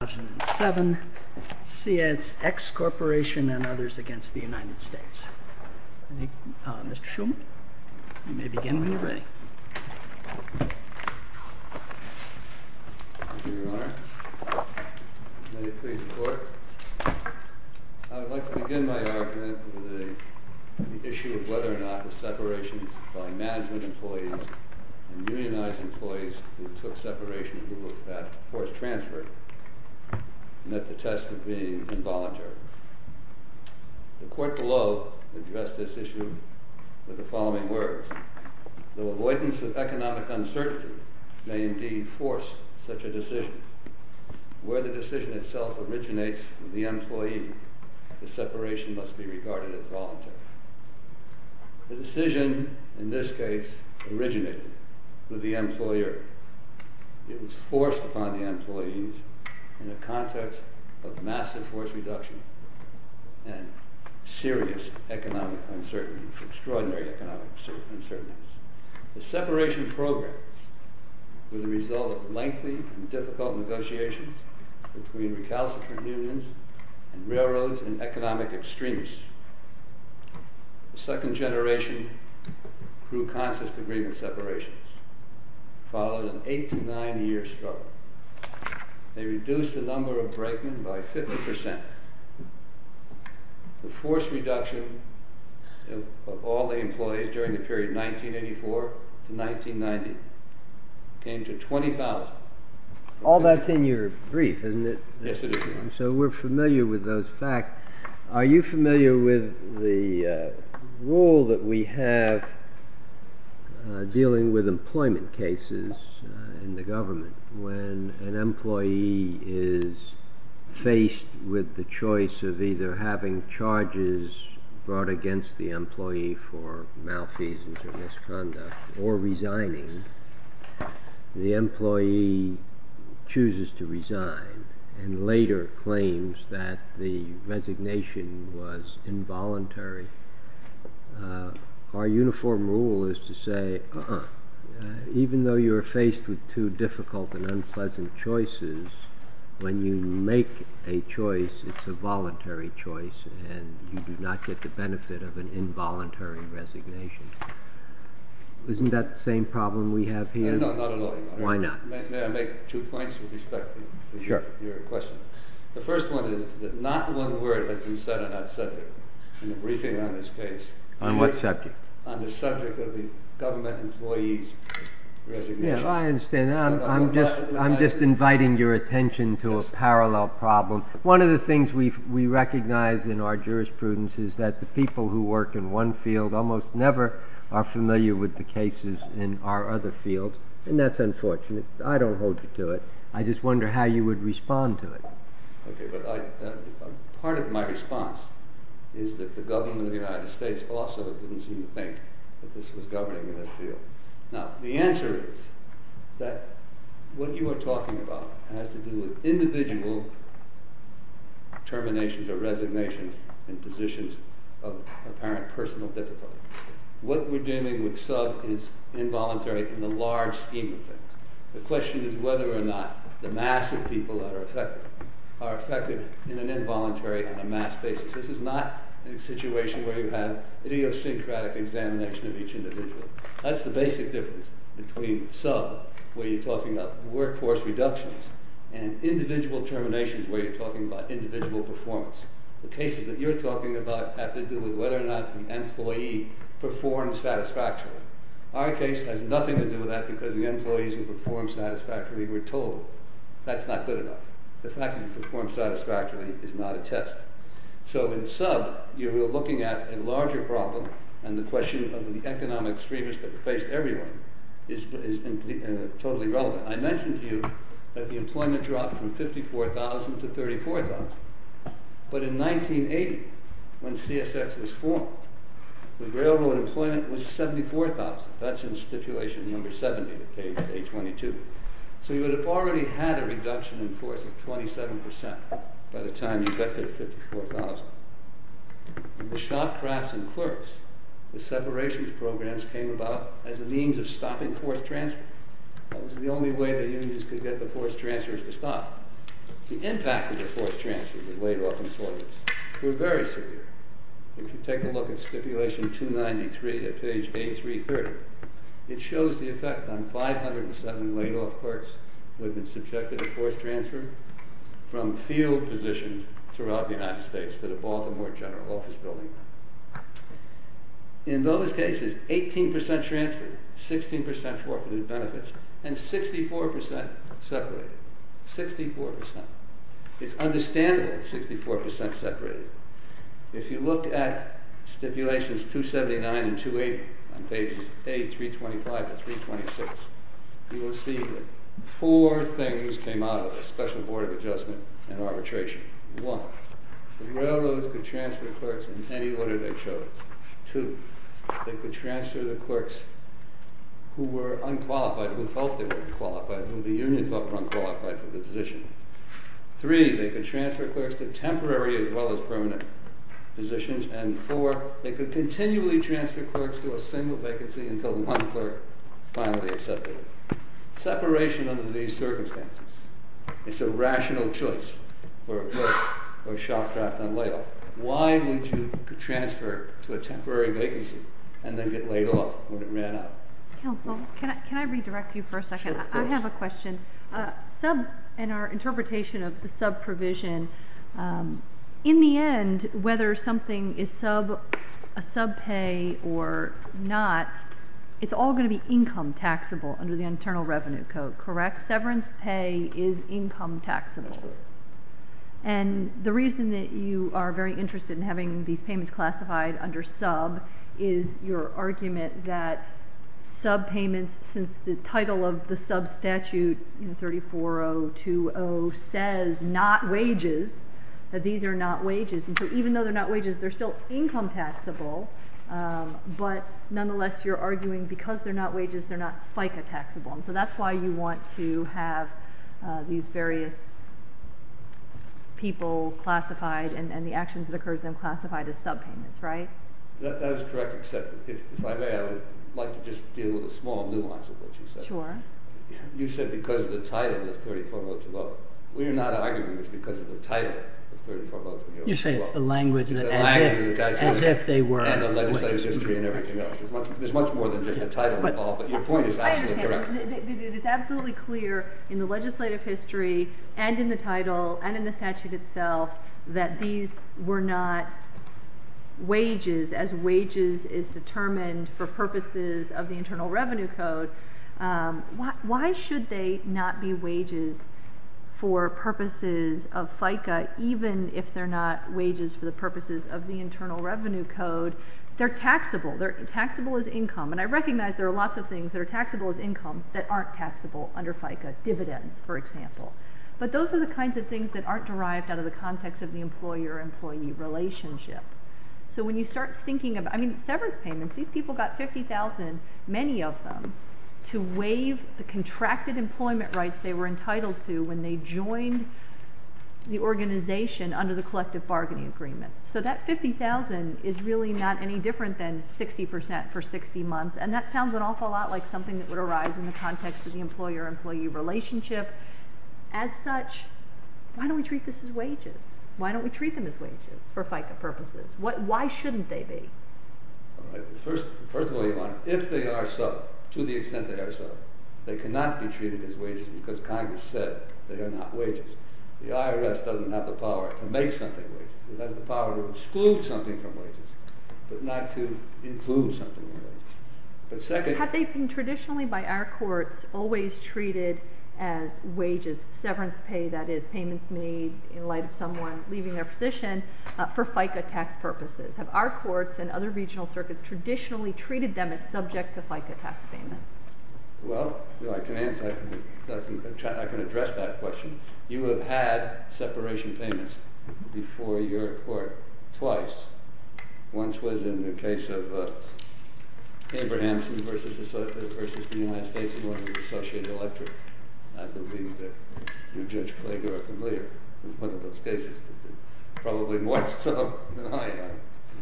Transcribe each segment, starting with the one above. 2007, CSX Corporation and others against the United States. Mr. Shulman, you may begin when you're ready. Thank you, Your Honor. May it please the Court. I would like to begin my argument with the issue of whether or not the separations by management employees and unionized employees who took separation who were forced transferred met the test of being involuntary. The Court below addressed this issue with the following words. Though avoidance of economic uncertainty may indeed force such a decision, where the decision itself originates with the employee, the separation must be regarded as voluntary. The decision, in this case, originated with the employer. It was forced upon the employees in the context of massive force reduction and serious economic uncertainty, extraordinary economic uncertainty. The separation program was the result of lengthy and difficult negotiations between recalcitrant unions and railroads and economic extremists. The second generation grew conscious to agreement separations, followed an eight to nine year struggle. They reduced the number of break-ins by 50 percent. The force reduction of all the employees during the period 1984 to 1990 came to 20,000. All that's in your brief, isn't it? Yes, it is, Your Honor. having charges brought against the employee for malfeasance or misconduct or resigning, the employee chooses to resign and later claims that the resignation was involuntary. Our uniform rule is to say, even though you are faced with two difficult and unpleasant choices, when you make a choice, it's a voluntary choice and you do not get the benefit of an involuntary resignation. Isn't that the same problem we have here? No, not at all, Your Honor. Why not? May I make two points with respect to your question? Sure. The first one is that not one word has been said on that subject in the briefing on this case. On what subject? On the subject of the government employee's resignation. Yes, I understand. I'm just inviting your attention to a parallel problem. One of the things we recognize in our jurisprudence is that the people who work in one field almost never are familiar with the cases in our other fields, and that's unfortunate. I don't hold you to it. I just wonder how you would respond to it. Okay, but part of my response is that the government of the United States also didn't seem to think that this was governing this field. Now, the answer is that what you are talking about has to do with individual terminations or resignations in positions of apparent personal difficulty. What we're deeming with sub is involuntary in the large scheme of things. The question is whether or not the mass of people that are affected are affected in an involuntary and a mass basis. This is not a situation where you have idiosyncratic examination of each individual. That's the basic difference between sub, where you're talking about workforce reductions, and individual terminations, where you're talking about individual performance. The cases that you're talking about have to do with whether or not the employee performed satisfactorily. Our case has nothing to do with that because the employees who performed satisfactorily were told that's not good enough. The fact that you performed satisfactorily is not a test. So in sub, you're looking at a larger problem, and the question of the economic extremists that replaced everyone is totally relevant. I mentioned to you that the employment dropped from 54,000 to 34,000, but in 1980, when CSX was formed, the railroad employment was 74,000. That's in stipulation number 70 of page 22. So you would have already had a reduction in force of 27% by the time you got to 54,000. In the shop, crafts, and clerks, the separations programs came about as a means of stopping force transfer. That was the only way the unions could get the force transfers to stop. The impact of the force transfers, the laid-off employers, were very severe. If you take a look at stipulation 293 of page A330, it shows the effect on 507 laid-off clerks who had been subjected to force transfer from field positions throughout the United States to the Baltimore General Office Building. In those cases, 18% transferred, 16% forfeited benefits, and 64% separated. 64%. It's understandable that 64% separated. If you look at stipulations 279 and 280 on pages A325 and 326, you will see that four things came out of the Special Board of Adjustment and Arbitration. One, the railroads could transfer clerks in any order they chose. Two, they could transfer the clerks who were unqualified, who felt they were unqualified, who the unions thought were unqualified for the position. Three, they could transfer clerks to temporary as well as permanent positions. And four, they could continually transfer clerks to a single vacancy until one clerk finally accepted it. Separation under these circumstances is a rational choice for a shop draft on layoff. Why would you transfer to a temporary vacancy and then get laid off when it ran out? Counsel, can I redirect you for a second? I have a question. In our interpretation of the subprovision, in the end, whether something is a subpay or not, it's all going to be income taxable under the Internal Revenue Code, correct? Severance pay is income taxable. And the reason that you are very interested in having these payments classified under sub is your argument that subpayments, since the title of the sub statute in 34020 says not wages, that these are not wages. And so even though they're not wages, they're still income taxable. But nonetheless, you're arguing because they're not wages, they're not FICA taxable. So that's why you want to have these various people classified and the actions that occur to them classified as subpayments, right? That is correct, except if I may, I would like to just deal with a small nuance of what you said. Sure. You said because of the title of 34020. We're not arguing it's because of the title of 34020. You say it's the language that as if they were wages. And the legislative history and everything else. There's much more than just the title involved, but your point is absolutely correct. It's absolutely clear in the legislative history and in the title and in the statute itself that these were not wages as wages is determined for purposes of the Internal Revenue Code. Why should they not be wages for purposes of FICA even if they're not wages for the purposes of the Internal Revenue Code? They're taxable. They're taxable as income. And I recognize there are lots of things that are taxable as income that aren't taxable under FICA. Dividends, for example. But those are the kinds of things that aren't derived out of the context of the employer-employee relationship. So when you start thinking of severance payments, these people got 50,000, many of them, to waive the contracted employment rights they were entitled to when they joined the organization under the collective bargaining agreement. So that 50,000 is really not any different than 60% for 60 months, and that sounds an awful lot like something that would arise in the context of the employer-employee relationship. As such, why don't we treat this as wages? Why don't we treat them as wages for FICA purposes? Why shouldn't they be? First of all, Yvonne, if they are so, to the extent they are so, they cannot be treated as wages because Congress said they are not wages. The IRS doesn't have the power to make something wages. It has the power to exclude something from wages, but not to include something in wages. But second— Have they been traditionally by our courts always treated as wages, severance pay, that is, payments made in light of someone leaving their position, for FICA tax purposes? Have our courts and other regional circuits traditionally treated them as subject to FICA tax payments? Well, if you'd like to answer, I can address that question. You have had separation payments before your court twice. Once was in the case of Abrahamson versus the United States and was an associate electorate. I believe that you, Judge Klager, are familiar with one of those cases. Probably more so than I am.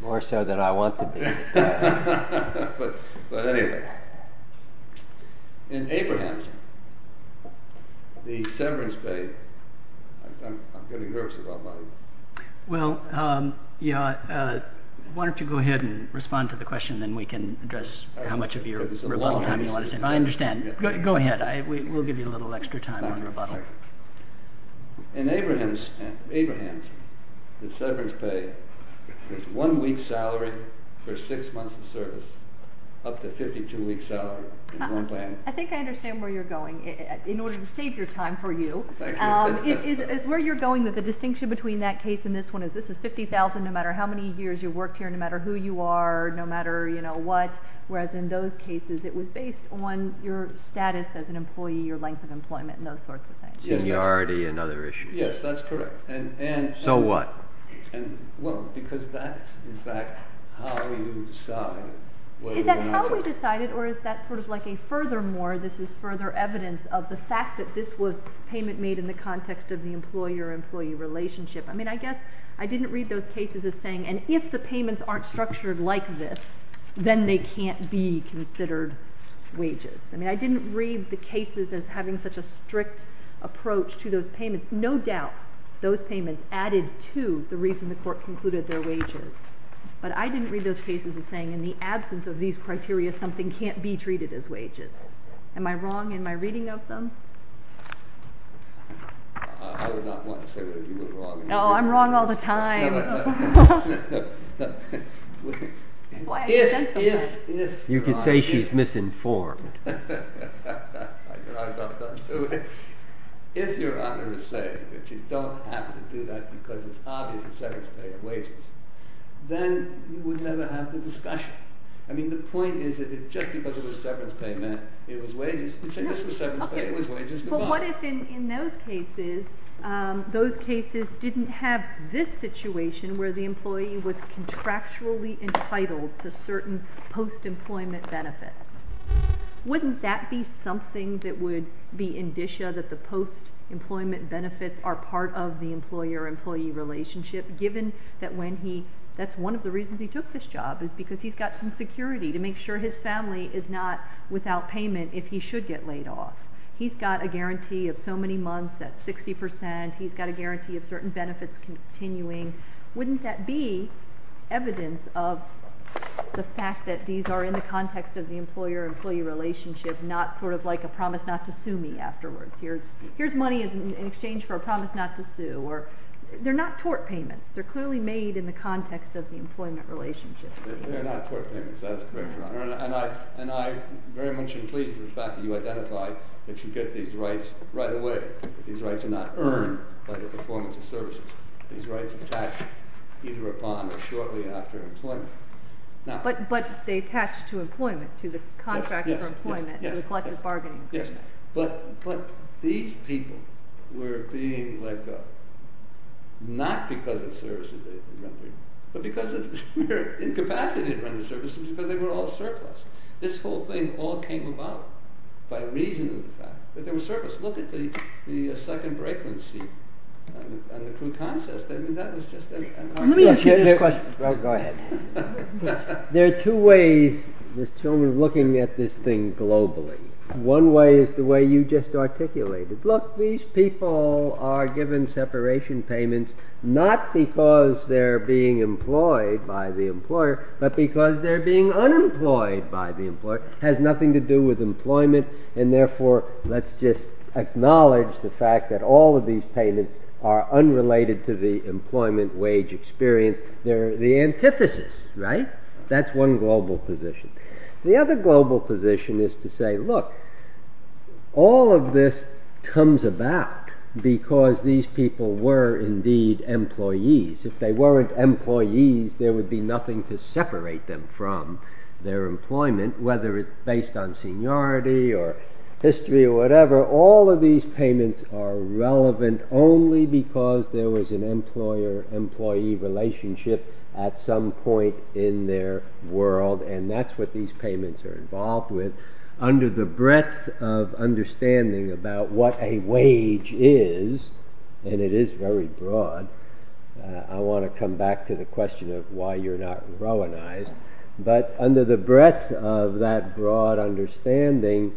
More so than I want to be. But anyway. In Abrahamson, the severance pay—I'm getting nervous about my— Well, why don't you go ahead and respond to the question, then we can address how much of your rebuttal time you want to spend. I understand. Go ahead. We'll give you a little extra time on rebuttal. In Abrahamson, the severance pay is one week's salary for six months of service, up to a 52-week salary. I think I understand where you're going, in order to save your time for you. It's where you're going that the distinction between that case and this one is this is $50,000 no matter how many years you've worked here, no matter who you are, no matter what. Whereas in those cases, it was based on your status as an employee, your length of employment, and those sorts of things. And you're already in other issues. Yes, that's correct. So what? Well, because that is, in fact, how you decide whether you want to— Is that how we decided, or is that sort of like a furthermore, this is further evidence of the fact that this was payment made in the context of the employer-employee relationship? I mean, I guess I didn't read those cases as saying, and if the payments aren't structured like this, then they can't be considered wages. I mean, I didn't read the cases as having such a strict approach to those payments. No doubt those payments added to the reason the Court concluded they're wages. But I didn't read those cases as saying in the absence of these criteria, something can't be treated as wages. Am I wrong in my reading of them? I would not want to say that you were wrong. No, I'm wrong all the time. You can say she's misinformed. If Your Honor is saying that you don't have to do that because it's obvious that severance pay and wages, then you would never have the discussion. I mean, the point is that if just because it was severance pay meant it was wages, you'd say this was severance pay, it was wages. But what if in those cases, those cases didn't have this situation where the employee was contractually entitled to certain post-employment benefits? Wouldn't that be something that would be indicia that the post-employment benefits are part of the employer-employee relationship, given that that's one of the reasons he took this job, is because he's got some security to make sure his family is not without payment if he should get laid off. He's got a guarantee of so many months at 60%. He's got a guarantee of certain benefits continuing. Wouldn't that be evidence of the fact that these are in the context of the employer-employee relationship, not sort of like a promise not to sue me afterwards? Here's money in exchange for a promise not to sue. They're not tort payments. They're clearly made in the context of the employment relationship. They're not tort payments. That's correct, Your Honor. And I very much am pleased with the fact that you identify that you get these rights right away. These rights are not earned by the performance of services. These rights attach either upon or shortly after employment. But they attach to employment, to the contract for employment, to the collective bargaining agreement. But these people were being let go, not because of services they were rendering, but because of their incapacity to render services, because they were all surplus. This whole thing all came about by reason of the fact that they were surplus. Look at the second break-in scene and the croutons. I mean, that was just an understatement. Let me ask you this question. Go ahead. There are two ways, Ms. Tillman, of looking at this thing globally. One way is the way you just articulated. Look, these people are given separation payments not because they're being employed by the employer, but because they're being unemployed by the employer. It has nothing to do with employment. And therefore, let's just acknowledge the fact that all of these payments are unrelated to the employment wage experience. They're the antithesis, right? That's one global position. The other global position is to say, look, all of this comes about because these people were indeed employees. If they weren't employees, there would be nothing to separate them from their employment, whether it's based on seniority or history or whatever. All of these payments are relevant only because there was an employer-employee relationship at some point in their world. And that's what these payments are involved with under the breadth of understanding about what a wage is. And it is very broad. I want to come back to the question of why you're not Rowanized. But under the breadth of that broad understanding,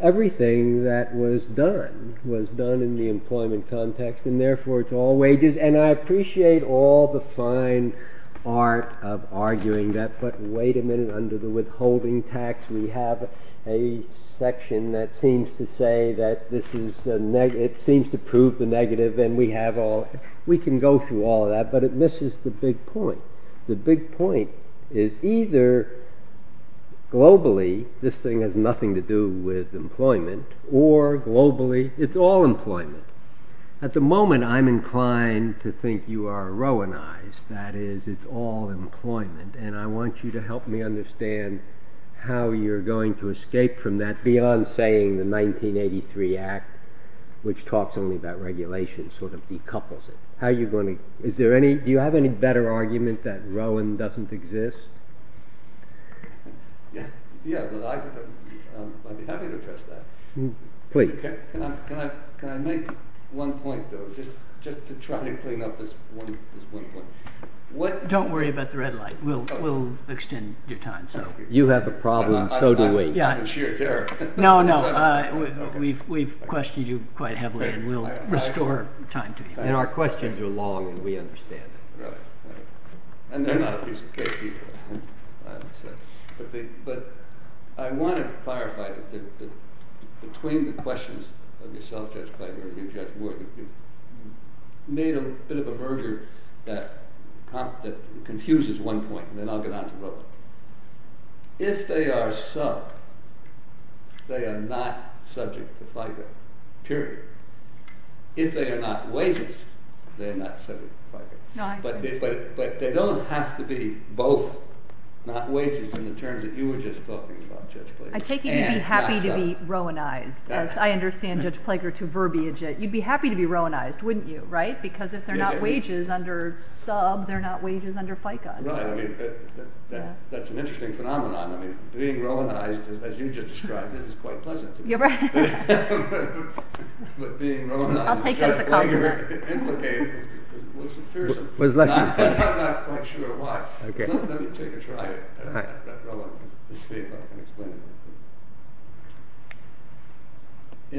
everything that was done was done in the employment context. And therefore, it's all wages. And I appreciate all the fine art of arguing that. But wait a minute. Under the withholding tax, we have a section that seems to say that this is—it seems to prove the negative. And we have all—we can go through all of that. But it misses the big point. The big point is either globally this thing has nothing to do with employment or globally it's all employment. At the moment, I'm inclined to think you are Rowanized. That is, it's all employment. And I want you to help me understand how you're going to escape from that beyond saying the 1983 Act, which talks only about regulation, sort of decouples it. How are you going to—is there any—do you have any better argument that Rowan doesn't exist? Yeah. I'd be happy to address that. Please. Can I make one point, though, just to try to clean up this one point? Don't worry about the red light. We'll extend your time. You have a problem. So do we. I'm in sheer terror. No, no. We've questioned you quite heavily, and we'll restore time to you. And our questions are long, and we understand. Right. And they're not a piece of cake, either. But I want to clarify that between the questions of yourself, Judge Piper, and Judge Wood, you made a bit of a merger that confuses one point, and then I'll get on to Rowan. If they are sub, they are not subject to FICA, period. If they are not wages, they are not subject to FICA. But they don't have to be both not wages in the terms that you were just talking about, Judge Piper, and not sub. I take it you'd be happy to be Rowanized. I understand Judge Piper to verbiage it. You'd be happy to be Rowanized, wouldn't you, right? Because if they're not wages under sub, they're not wages under FICA. Right. That's an interesting phenomenon. I mean, being Rowanized, as you just described it, is quite pleasant to me. You're right. I'll take that as a compliment. I'm not quite sure why. Let me take a try at Rowan to see if I can explain it.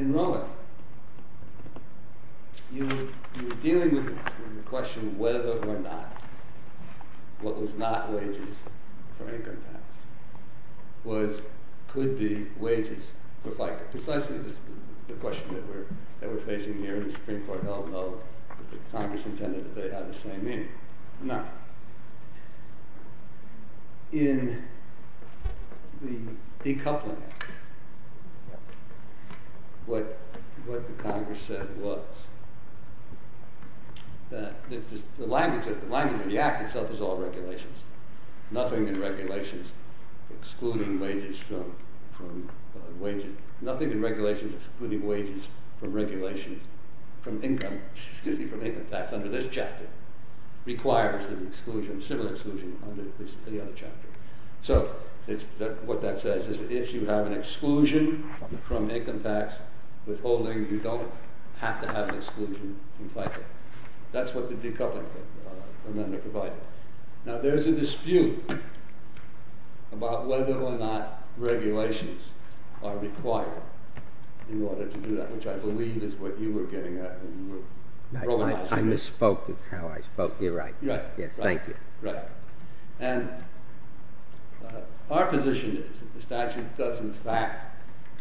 In Rowan, you were dealing with the question whether or not what was not wages for income tax could be wages for FICA. Precisely the question that we're facing here in the Supreme Court, although the Congress intended that they have the same meaning. Now, in the decoupling act, what the Congress said was that the language of the act itself is all regulations. Nothing in regulations excluding wages from income tax under this chapter requires civil exclusion under any other chapter. So, what that says is that if you have an exclusion from income tax withholding, you don't have to have an exclusion from FICA. That's what the decoupling amendment provided. Now, there's a dispute about whether or not regulations are required in order to do that, which I believe is what you were getting at when you were Rowanizing this. I misspoke with how I spoke. You're right. Right. Thank you. Right. And our position is that the statute does in fact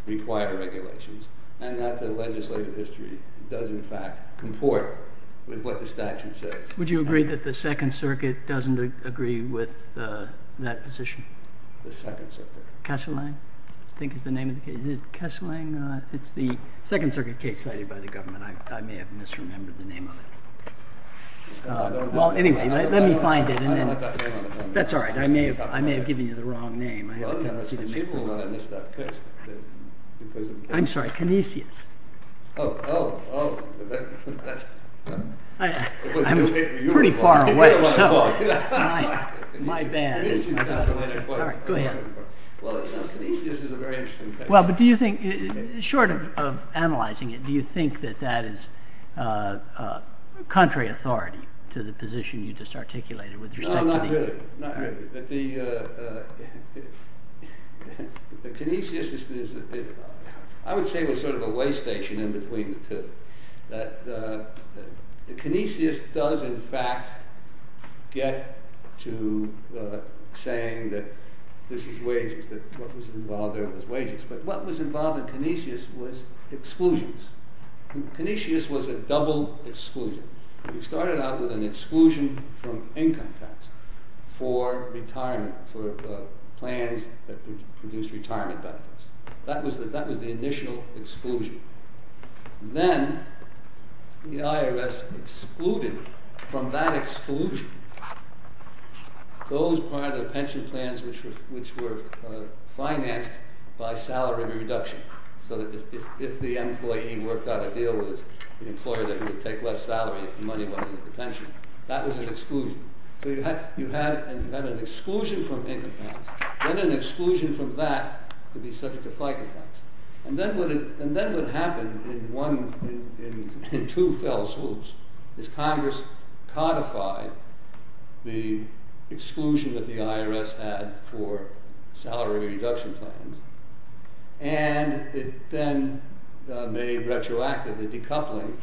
require regulations and that the legislative history does in fact comport with what the statute says. Would you agree that the Second Circuit doesn't agree with that position? The Second Circuit? Kessling? I think is the name of the case. Is it Kessling? It's the Second Circuit case cited by the government. I may have misremembered the name of it. Well, anyway, let me find it. I don't have that name on the agenda. That's all right. I may have given you the wrong name. Well, it's conceivable that I missed that case. I'm sorry. Kinesias. Oh, oh, oh. I'm pretty far away. My bad. All right, go ahead. Well, Kinesias is a very interesting case. Well, but do you think, short of analyzing it, do you think that that is contrary authority to the position you just articulated with respect to the… Not really, not really. The Kinesias is, I would say, was sort of a way station in between the two. The Kinesias does in fact get to saying that this is wages, that what was involved there was wages. But what was involved in Kinesias was exclusions. Kinesias was a double exclusion. We started out with an exclusion from income tax for plans that produced retirement benefits. That was the initial exclusion. Then the IRS excluded from that exclusion those part of the pension plans which were financed by salary reduction. So that if the employee worked out a deal with an employer that would take less salary if the money went into the pension, that was an exclusion. So you had an exclusion from income tax, then an exclusion from that to be subject to flight tax. And then what happened in two fell swoops is Congress codified the exclusion that the IRS had for salary reduction plans. And it then made retroactively decoupling,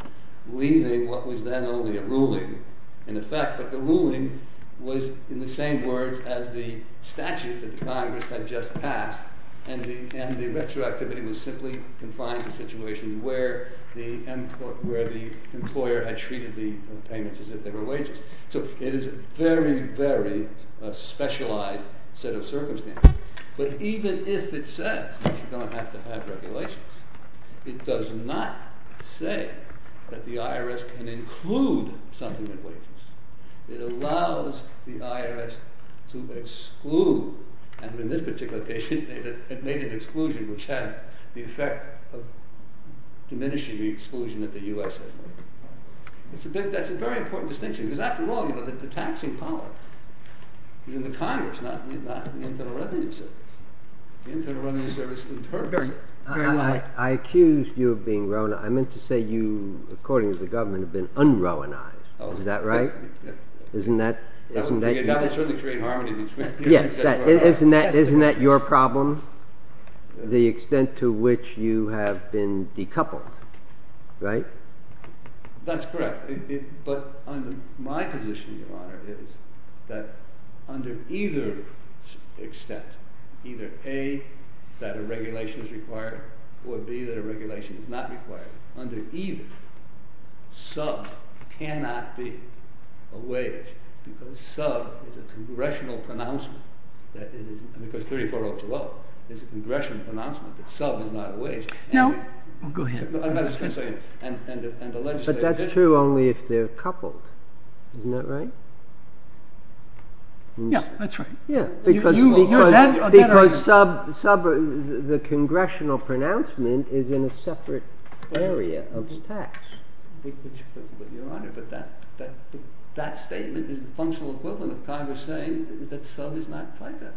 leaving what was then only a ruling in effect. But the ruling was in the same words as the statute that Congress had just passed. And the retroactivity was simply confined to the situation where the employer had treated the payments as if they were wages. So it is a very, very specialized set of circumstances. But even if it says that you don't have to have regulations, it does not say that the IRS can include something that wages. It allows the IRS to exclude, and in this particular case it made an exclusion which had the effect of diminishing the exclusion that the US has made. That's a very important distinction, because after all, the taxing power is in the Congress, not the Internal Revenue Service. The Internal Revenue Service is in terms of it. I accused you of being rona. I meant to say you, according to the government, have been un-ronized. Is that right? Isn't that your problem? The extent to which you have been decoupled. That's correct. But my position, Your Honor, is that under either extent, either A, that a regulation is required, or B, that a regulation is not required. Under either, sub cannot be a wage, because sub is a congressional pronouncement. Because 3402 is a congressional pronouncement that sub is not a wage. But that's true only if they're coupled. Isn't that right? Yeah, that's right. Because sub, the congressional pronouncement, is in a separate area of the tax. That statement is the functional equivalent of Congress saying that sub is not quite that.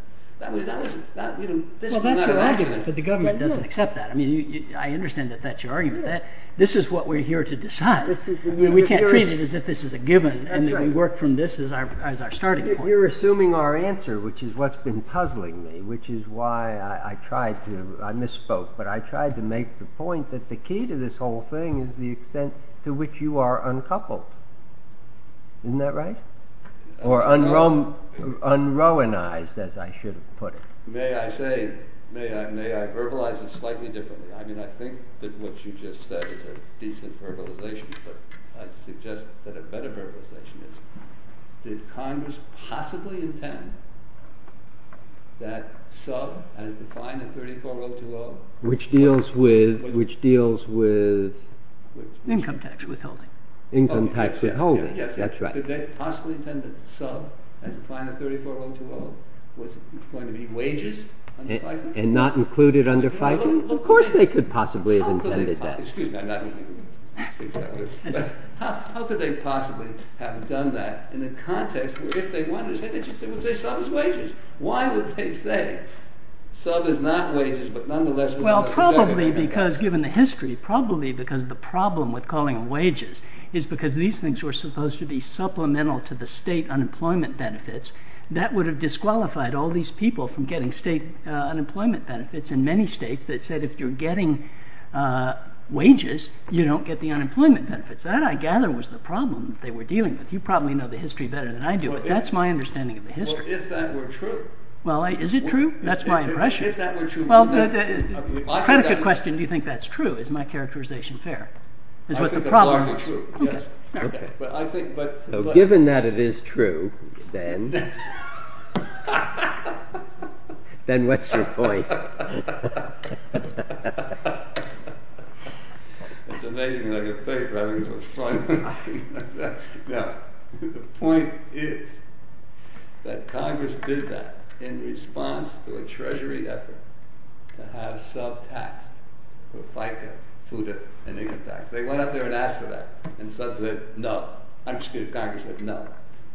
Well, that's your argument, but the government doesn't accept that. I mean, I understand that that's your argument. This is what we're here to decide. We can't treat it as if this is a given and that we work from this as our starting point. You're assuming our answer, which is what's been puzzling me, which is why I tried to, I misspoke, but I tried to make the point that the key to this whole thing is the extent to which you are uncoupled. Isn't that right? Or unrowanized, as I should have put it. May I say, may I verbalize this slightly differently? I mean, I think that what you just said is a decent verbalization, but I suggest that a better verbalization is, did Congress possibly intend that sub as defined in 34020... Which deals with... Income tax withholding. Income tax withholding, that's right. Did they possibly intend that sub as defined in 34020 was going to be wages under FICA? And not included under FICA? Of course they could possibly have intended that. How could they possibly, excuse me, I'm not going to... How could they possibly have done that in the context where if they wanted to say that, they would say sub is wages. Why would they say sub is not wages, but nonetheless... Probably because, given the history, probably because the problem with calling them wages is because these things were supposed to be supplemental to the state unemployment benefits. That would have disqualified all these people from getting state unemployment benefits in many states that said if you're getting wages, you don't get the unemployment benefits. That, I gather, was the problem that they were dealing with. You probably know the history better than I do, but that's my understanding of the history. Well, if that were true... Well, is it true? That's my impression. If that were true... Well, the predicate question, do you think that's true, is my characterization fair? I think that's largely true, yes. Okay. But I think, but... So given that it is true, then... Then what's your point? It's amazing how you think, right? Now, the point is that Congress did that in response to a treasury effort to have sub taxed for FICA, FUTA, and income tax. They went up there and asked for that, and sub said no. I'm just kidding, Congress said no.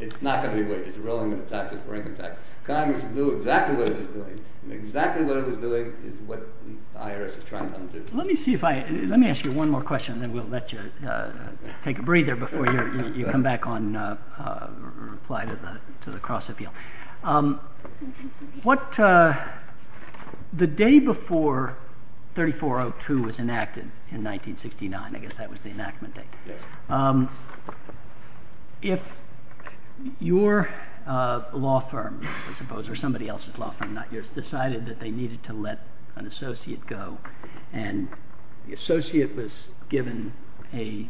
It's not going to be wages. The real income taxes were income taxes. Congress knew exactly what it was doing, and exactly what it was doing is what the IRS is trying to undo. Let me see if I, let me ask you one more question, and then we'll let you take a breather before you come back on, reply to the cross appeal. What, the day before 3402 was enacted in 1969, I guess that was the enactment date. Yes. If your law firm, I suppose, or somebody else's law firm, not yours, decided that they needed to let an associate go, and the associate was given a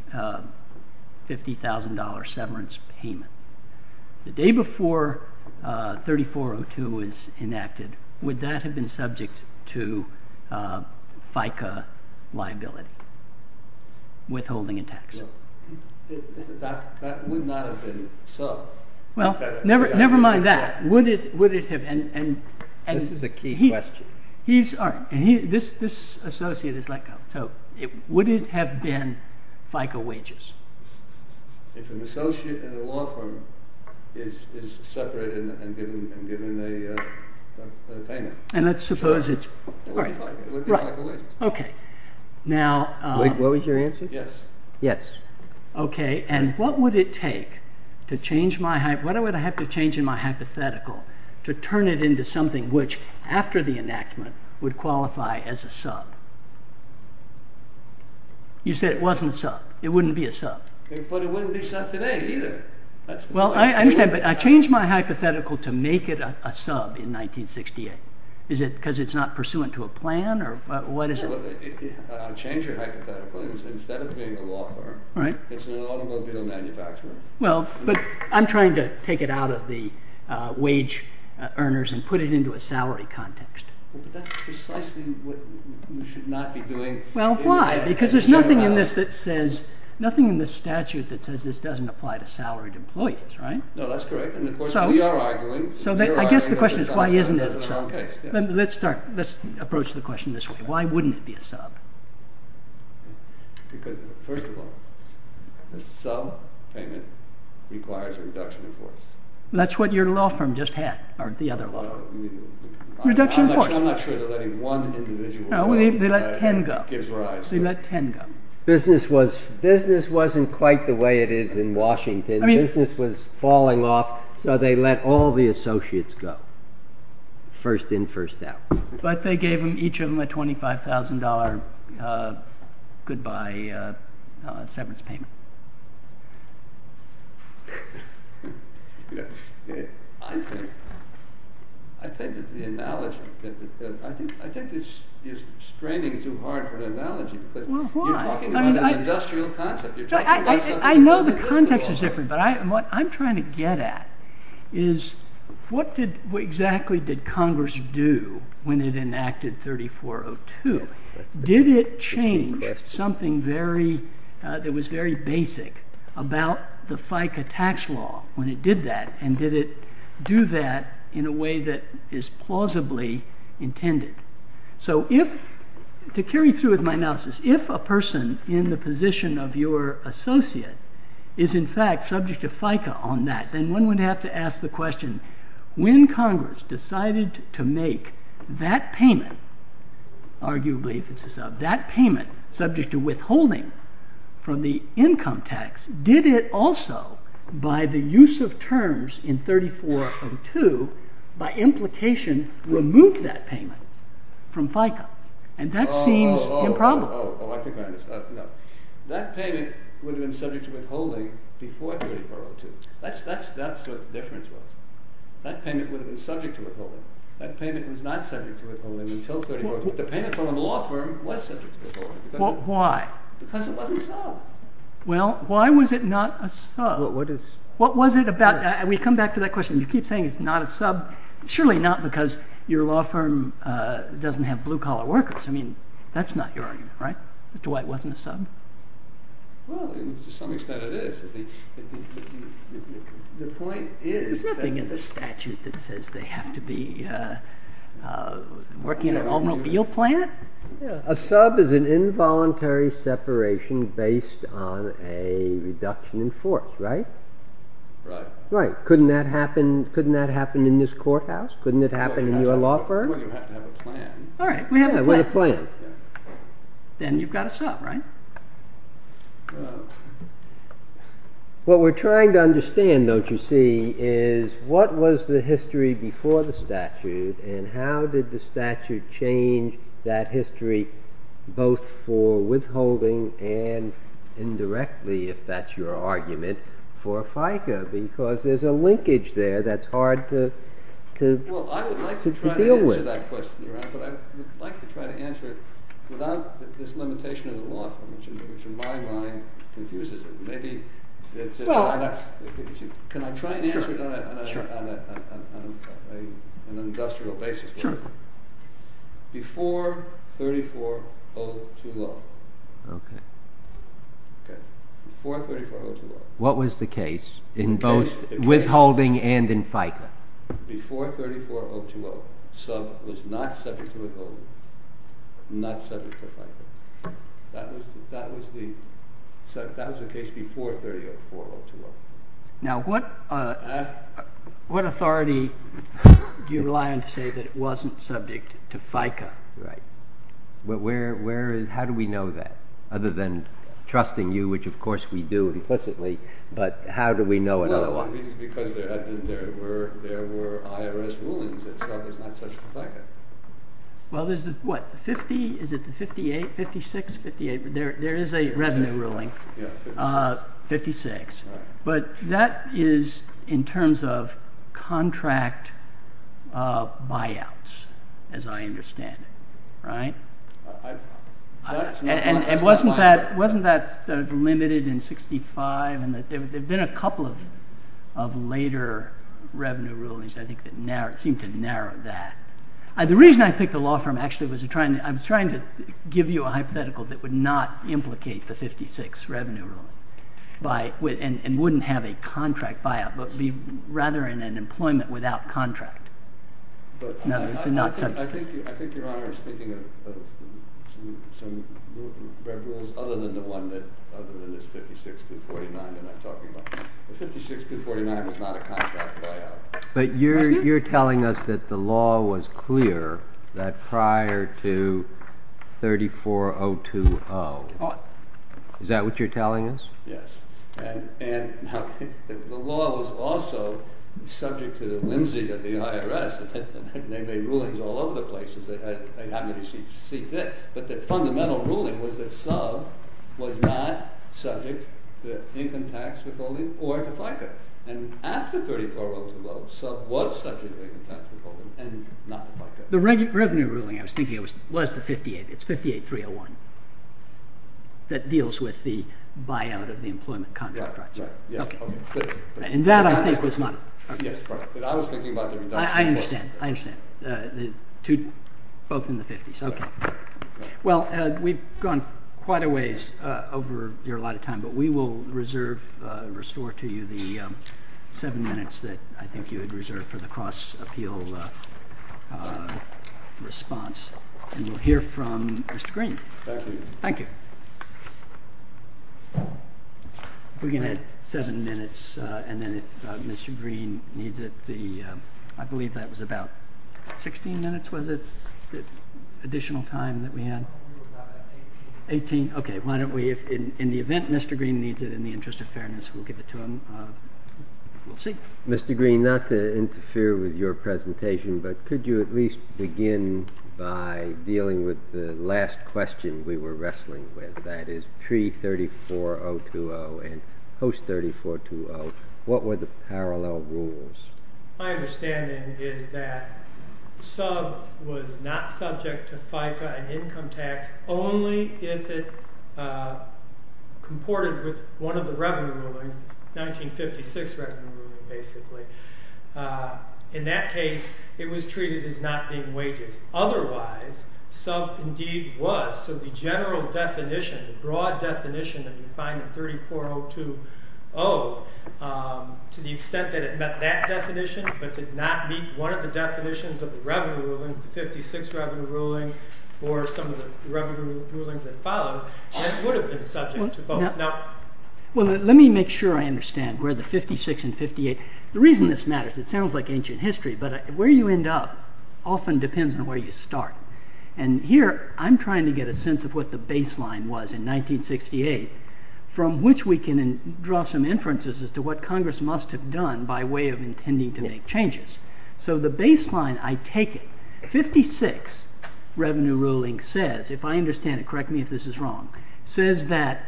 $50,000 severance payment, the day before 3402 was enacted, would that have been subject to FICA liability, withholding a tax? That would not have been sub. Well, never mind that. Would it have, and he's, this associate is let go, so would it have been FICA wages? If an associate in a law firm is separated and given a payment. And let's suppose it's, right. It would be FICA wages. Okay, now. What was your answer? Yes. Yes. Okay, and what would it take to change my, what would I have to change in my hypothetical to turn it into something which, after the enactment, would qualify as a sub? You said it wasn't a sub. It wouldn't be a sub. But it wouldn't be sub today, either. Well, I understand, but I changed my hypothetical to make it a sub in 1968. Is it because it's not pursuant to a plan, or what is it? I'll change your hypothetical. Instead of being a law firm, it's an automobile manufacturer. Well, but I'm trying to take it out of the wage earners and put it into a salary context. Well, but that's precisely what you should not be doing. Well, why? Because there's nothing in this that says, nothing in the statute that says this doesn't apply to salaried employees, right? No, that's correct, and of course we are arguing. So I guess the question is why isn't it a sub? Let's start, let's approach the question this way. Why wouldn't it be a sub? Because, first of all, a sub payment requires a reduction in force. That's what your law firm just had, or the other law firm. Reduction in force. I'm not sure they're letting one individual go. No, they let ten go. Gives rise. They let ten go. Business wasn't quite the way it is in Washington. Business was falling off, so they let all the associates go, first in, first out. But they gave each of them a $25,000 goodbye severance payment. I think it's the analogy. I think you're straining too hard for the analogy. Well, why? You're talking about an industrial concept. I know the context is different, but what I'm trying to get at is what exactly did Congress do when it enacted 3402? Did it change something that was very basic about the FICA tax law when it did that? And did it do that in a way that is plausibly intended? So, to carry through with my analysis, if a person in the position of your associate is in fact subject to FICA on that, then one would have to ask the question, when Congress decided to make that payment, arguably, that payment, subject to withholding from the income tax, did it also, by the use of terms in 3402, by implication, remove that payment from FICA? And that seems improbable. That payment would have been subject to withholding before 3402. That's what the difference was. That payment would have been subject to withholding. That payment was not subject to withholding until 3402. The payment from the law firm was subject to withholding. Why? Because it wasn't sub. Well, why was it not a sub? What was it about? We come back to that question. You keep saying it's not a sub. Surely not because your law firm doesn't have blue-collar workers. I mean, that's not your argument, right? That's why it wasn't a sub? Well, to some extent it is. The point is that— There's nothing in the statute that says they have to be working at an automobile plant. A sub is an involuntary separation based on a reduction in force, right? Right. Right. Couldn't that happen in this courthouse? Couldn't it happen in your law firm? Well, you have to have a plan. All right. We have a plan. Yeah, we have a plan. Then you've got a sub, right? What we're trying to understand, don't you see, is what was the history before the statute, and how did the statute change that history both for withholding and indirectly, if that's your argument, for FICA? Because there's a linkage there that's hard to deal with. Well, I would like to try to answer that question, Your Honor, but I would like to try to answer it without this limitation of the law firm, which in my mind confuses it. Can I try and answer it on an industrial basis? Sure. Before 3402 law. Okay. Okay. Before 3402 law. What was the case in both withholding and in FICA? Before 3402 law, sub was not subject to withholding, not subject to FICA. That was the case before 3402 law. Now, what authority do you rely on to say that it wasn't subject to FICA? Right. How do we know that, other than trusting you, which of course we do implicitly, but how do we know it otherwise? Because there were IRS rulings that said it was not subject to FICA. Well, there's what, 50, is it the 58, 56, 58? There is a revenue ruling. Yeah, 56. 56. Right. But that is in terms of contract buyouts, as I understand it. Right? And wasn't that limited in 65? And there have been a couple of later revenue rulings, I think, that seem to narrow that. The reason I picked the law firm, actually, was I'm trying to give you a hypothetical that would not implicate the 56 revenue ruling, and wouldn't have a contract buyout, but be rather in an employment without contract. No, it's not subject. I think Your Honor is thinking of some rules other than the one that, other than this 56-249 that I'm talking about. The 56-249 was not a contract buyout. But you're telling us that the law was clear prior to 34020. Is that what you're telling us? Yes. And the law was also subject to the whimsy of the IRS, and they made rulings all over the place, as they happened to see fit. But the fundamental ruling was that SUB was not subject to income tax withholding or to FICA. And after 34020, SUB was subject to income tax withholding and not to FICA. The revenue ruling, I was thinking, was the 58. It's 58-301 that deals with the buyout of the employment contract. Right. Yes. And that, I think, was not. Yes. But I was thinking about the reduction. I understand. I understand. Both in the 50s. Okay. Well, we've gone quite a ways over your allotted time, but we will reserve, restore to you the seven minutes that I think you had reserved for the cross-appeal response. And we'll hear from Mr. Green. Thank you. Thank you. Okay. We can add seven minutes, and then if Mr. Green needs it, I believe that was about 16 minutes, was it, additional time that we had? Eighteen. Eighteen. Okay. Why don't we, in the event Mr. Green needs it, in the interest of fairness, we'll give it to him. We'll see. Mr. Green, not to interfere with your presentation, but could you at least begin by dealing with the last question we were wrestling with, that is, pre-34020 and post-3420, what were the parallel rules? My understanding is that sub was not subject to FICA and income tax only if it comported with one of the revenue rulings, 1956 revenue ruling, basically. In that case, it was treated as not being wages. Otherwise, sub indeed was. So the general definition, the broad definition that you find in 34020, to the extent that it met that definition but did not meet one of the definitions of the revenue rulings, the 1956 revenue ruling, or some of the revenue rulings that followed, that would have been subject to both. Well, let me make sure I understand where the 1956 and 58, the reason this matters, it sounds like ancient history, but where you end up often depends on where you start. And here I'm trying to get a sense of what the baseline was in 1968 from which we can draw some inferences as to what Congress must have done by way of intending to make changes. So the baseline, I take it, 56 revenue ruling says, if I understand it, correct me if this is wrong, says that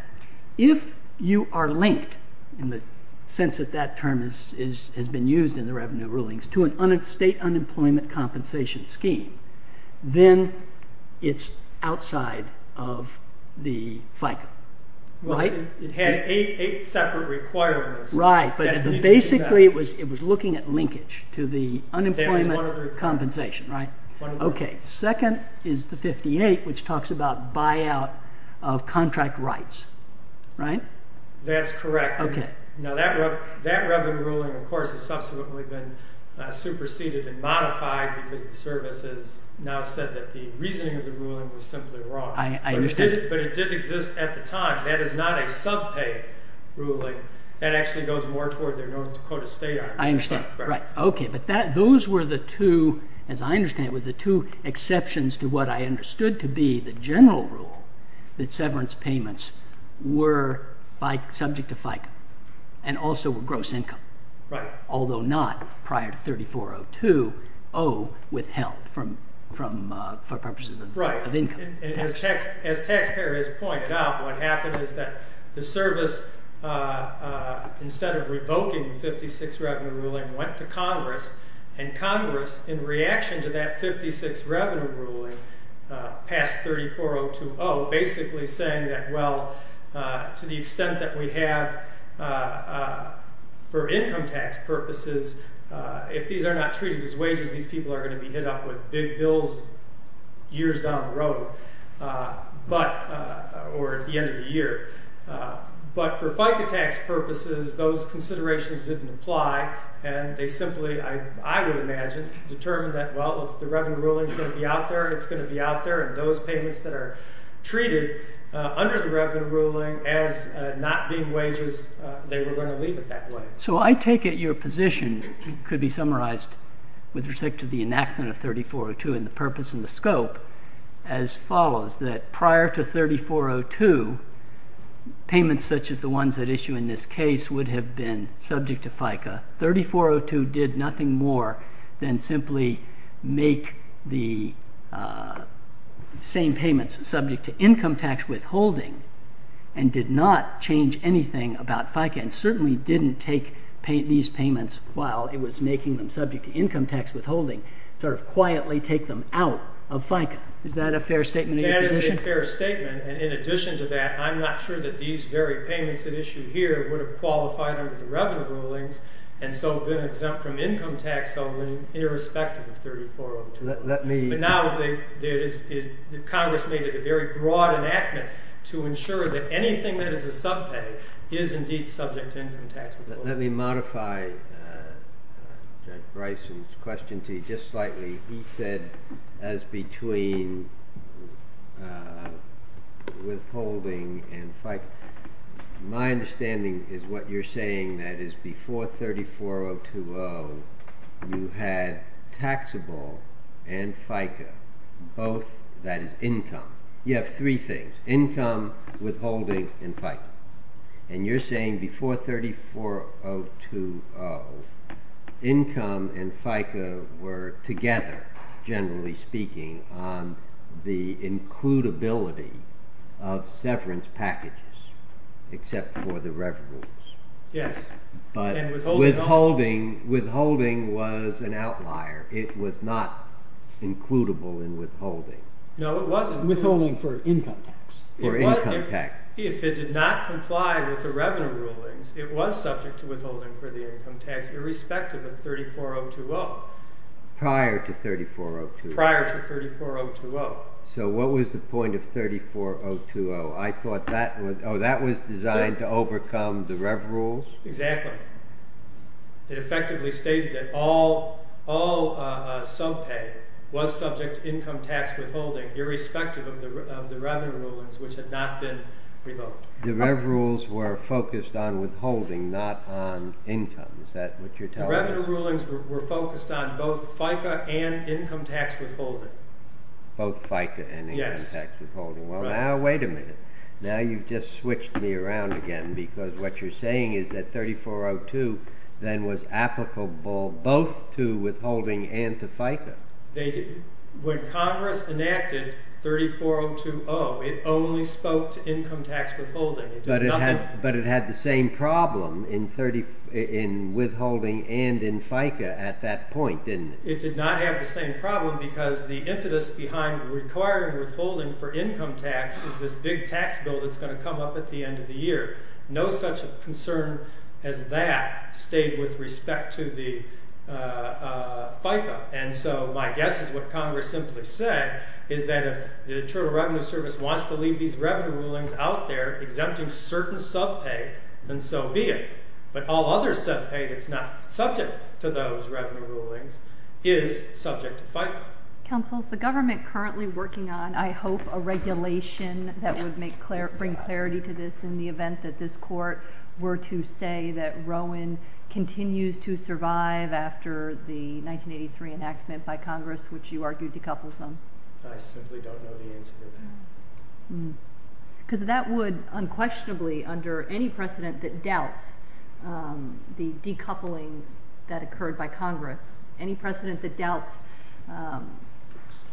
if you are linked, in the sense that that term has been used in the revenue rulings, to a state unemployment compensation scheme, then it's outside of the FICA, right? It had eight separate requirements. Right, but basically it was looking at linkage to the unemployment compensation, right? Okay, second is the 58, which talks about buyout of contract rights. Right? That's correct. Now that revenue ruling, of course, has subsequently been superseded and modified because the services now said that the reasoning of the ruling was simply wrong. I understand. But it did exist at the time. That is not a sub-pay ruling. That actually goes more toward the North Dakota State Army. I understand, right. Okay, but those were the two, as I understand it, were the two exceptions to what I understood to be the general rule that severance payments were subject to FICA, and also were gross income. Right. Although not, prior to 3402, O withheld for purposes of income. Right. And as taxpayer has pointed out, what happened is that the service, instead of revoking the 56 revenue ruling, went to Congress, and Congress, in reaction to that 56 revenue ruling, passed 3402 O, basically saying that, well, to the extent that we have for income tax purposes, if these are not treated as wages, these people are going to be hit up with big bills years down the road, or at the end of the year. But for FICA tax purposes, those considerations didn't apply, and they simply, I would imagine, determined that, well, if the revenue ruling is going to be out there, it's going to be out there, and those payments that are treated under the revenue ruling as not being wages, they were going to leave it that way. So I take it your position could be summarized with respect to the enactment of 3402 and the purpose and the scope as follows, that prior to 3402, payments such as the ones that issue in this case would have been subject to FICA. 3402 did nothing more than simply make the same payments subject to income tax withholding and did not change anything about FICA and certainly didn't take these payments while it was making them subject to income tax withholding, sort of quietly take them out of FICA. Is that a fair statement of your position? That is a fair statement, and in addition to that, I'm not sure that these very payments that issue here would have qualified under the revenue rulings and so been exempt from income tax holding irrespective of 3402. But now Congress made it a very broad enactment to ensure that anything that is a subpay is indeed subject to income tax withholding. Let me modify Judge Bryson's question to you just slightly. He said as between withholding and FICA. My understanding is what you're saying, that is before 3402, you had taxable and FICA, both that is income. You have three things, income, withholding, and FICA. And you're saying before 3402, income and FICA were together, generally speaking, on the includability of severance packages except for the revenue rules. Yes. But withholding was an outlier. It was not includable in withholding. No, it wasn't. Withholding for income tax. For income tax. If it did not comply with the revenue rulings, it was subject to withholding for the income tax irrespective of 3402-0. Prior to 3402-0. Prior to 3402-0. So what was the point of 3402-0? I thought that was designed to overcome the rev rules. Exactly. It effectively stated that all subpay was subject to income tax withholding irrespective of the revenue rulings, which had not been revoked. The rev rules were focused on withholding, not on income. Is that what you're telling me? The revenue rulings were focused on both FICA and income tax withholding. Both FICA and income tax withholding. Well, now wait a minute. Now you've just switched me around again because what you're saying is that 3402 then was applicable both to withholding and to FICA. They did. When Congress enacted 3402-0, it only spoke to income tax withholding. But it had the same problem in withholding and in FICA at that point, didn't it? It did not have the same problem because the impetus behind requiring withholding for income tax is this big tax bill that's going to come up at the end of the year. No such concern as that stayed with respect to the FICA. And so my guess is what Congress simply said is that if the Internal Revenue Service wants to leave these revenue rulings out there exempting certain subpay, then so be it. But all other subpay that's not subject to those revenue rulings is subject to FICA. Counsel, is the government currently working on, I hope, a regulation that would bring clarity to this in the event that this court were to say that Rowan continues to survive after the 1983 enactment by Congress, which you argued decouples them? I simply don't know the answer to that. Because that would unquestionably, under any precedent that doubts the decoupling that occurred by Congress, any precedent that doubts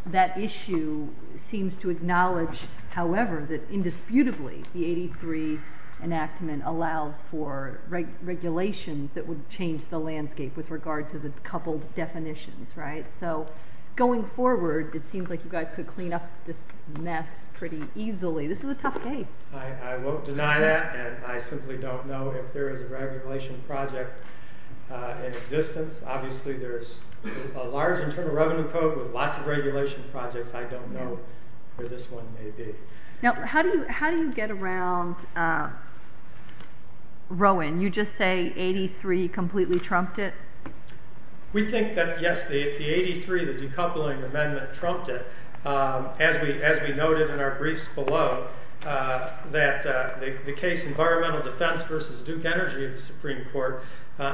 that issue seems to acknowledge, however, that indisputably the 83 enactment allows for regulations that would change the landscape with regard to the coupled definitions, right? So going forward, it seems like you guys could clean up this mess pretty easily. This is a tough case. I won't deny that, and I simply don't know if there is a regulation project in existence. Obviously there's a large Internal Revenue Code with lots of regulation projects. I don't know where this one may be. Now, how do you get around Rowan? You just say 83 completely trumped it? We think that, yes, the 83, the decoupling amendment, trumped it, as we noted in our briefs below, that the case Environmental Defense versus Duke Energy of the Supreme Court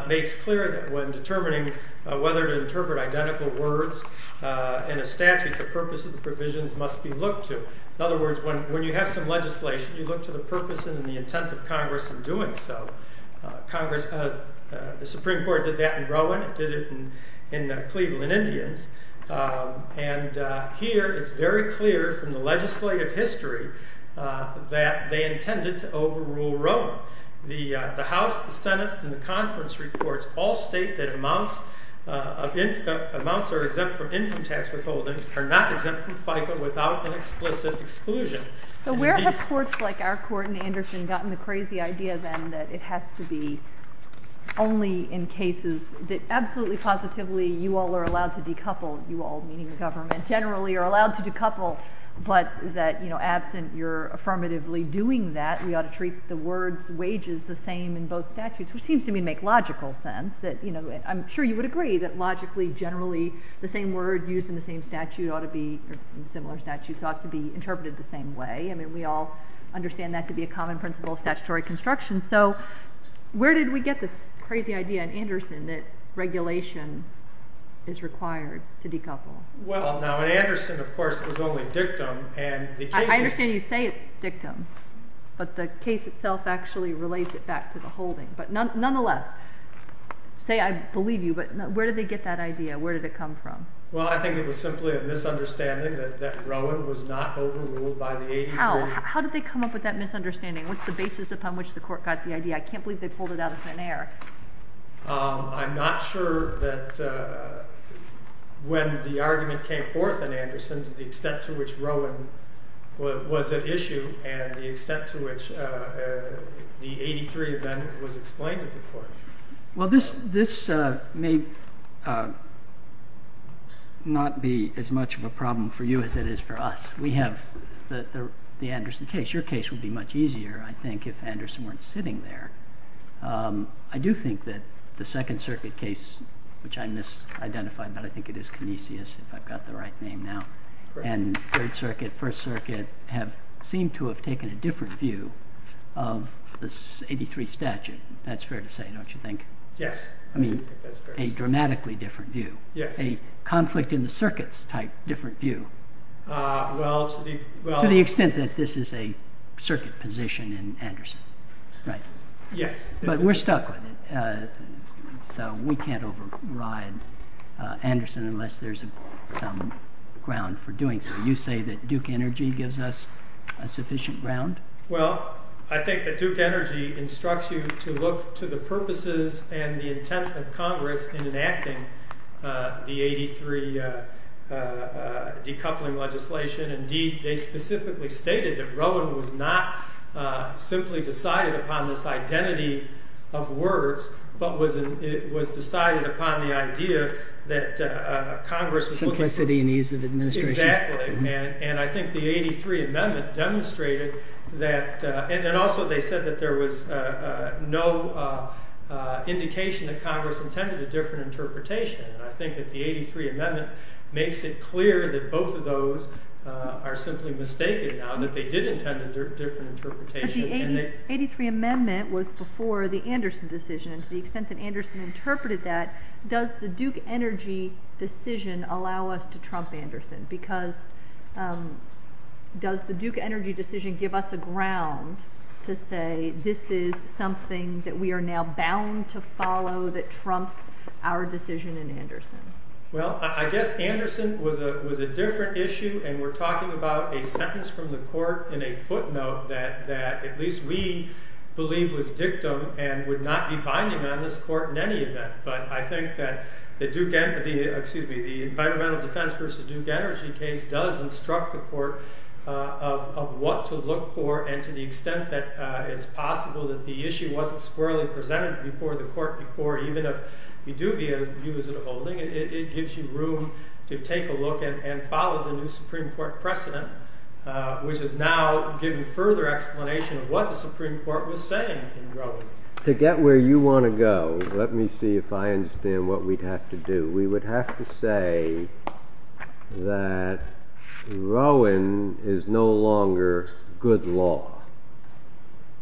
makes clear that when determining whether to interpret identical words in a statute, the purpose of the provisions must be looked to. In other words, when you have some legislation, you look to the purpose and the intent of Congress in doing so. The Supreme Court did that in Rowan. It did it in Cleveland Indians. And here it's very clear from the legislative history that they intended to overrule Rowan. The House, the Senate, and the conference reports all state that amounts are exempt from income tax withholding are not exempt from FICA without an explicit exclusion. And indeed- So where have courts like our court and Anderson gotten the crazy idea then that it has to be only in cases that absolutely positively you all are allowed to decouple, you all, meaning the government, generally are allowed to decouple, but that absent your affirmatively doing that, we ought to treat the words wages the same in both statutes, which seems to me to make logical sense. I'm sure you would agree that logically, generally, the same word used in the same statute ought to be in similar statutes ought to be interpreted the same way. I mean, we all understand that to be a common principle of statutory construction. So where did we get this crazy idea in Anderson that regulation is required to decouple? Well, now, in Anderson, of course, it was only dictum. And the cases- I understand you say it's dictum. But the case itself actually relates it back to the holding. But nonetheless, say, I believe you, but where did they get that idea? Where did it come from? Well, I think it was simply a misunderstanding that Rowan was not overruled by the 83. How did they come up with that misunderstanding? What's the basis upon which the court got the idea? I can't believe they pulled it out of thin air. I'm not sure that when the argument came forth in Anderson to the extent to which Rowan was at issue and the extent to which the 83 event was explained to the court. Well, this may not be as much of a problem for you as it is for us. We have the Anderson case. Your case would be much easier, I think, if Anderson weren't sitting there. I do think that the Second Circuit case, which I misidentified, but I think it is Canisius, if I've got the right name now, and Third Circuit, First Circuit, seem to have taken a different view of this 83 statute. That's fair to say, don't you think? Yes. I mean, a dramatically different view. Yes. A conflict-in-the-circuits type different view. Well, to the extent that this is a circuit position in Anderson, right? Yes. But we're stuck with it, so we can't override Anderson unless there's some ground for doing so. You say that Duke Energy gives us a sufficient ground? Well, I think that Duke Energy instructs you to look to the purposes and the intent of Congress in enacting the 83 decoupling legislation. Indeed, they specifically stated that Rowan was not simply decided upon this identity of words, but was decided upon the idea that Congress was looking for... Simplicity and ease of administration. Exactly. And I think the 83 amendment demonstrated that... And also they said that there was no indication that Congress intended a different interpretation. And I think that the 83 amendment makes it clear that both of those are simply mistaken now, that they did intend a different interpretation. But the 83 amendment was before the Anderson decision, and to the extent that Anderson interpreted that, does the Duke Energy decision allow us to trump Anderson? Because does the Duke Energy decision give us a ground to say this is something that we are now bound to follow that trumps our decision in Anderson? Well, I guess Anderson was a different issue, and we're talking about a sentence from the court in a footnote that at least we believe was dictum and would not be binding on this court in any event. But I think that the environmental defense versus Duke Energy case does instruct the court of what to look for, and to the extent that it's possible that the issue wasn't squarely presented before the court before even if we do view it as a holding, it gives you room to take a look and follow the new Supreme Court precedent, of what the Supreme Court was saying in Roe. To get where you want to go, let me see if I understand what we'd have to do. We would have to say that Rowan is no longer good law.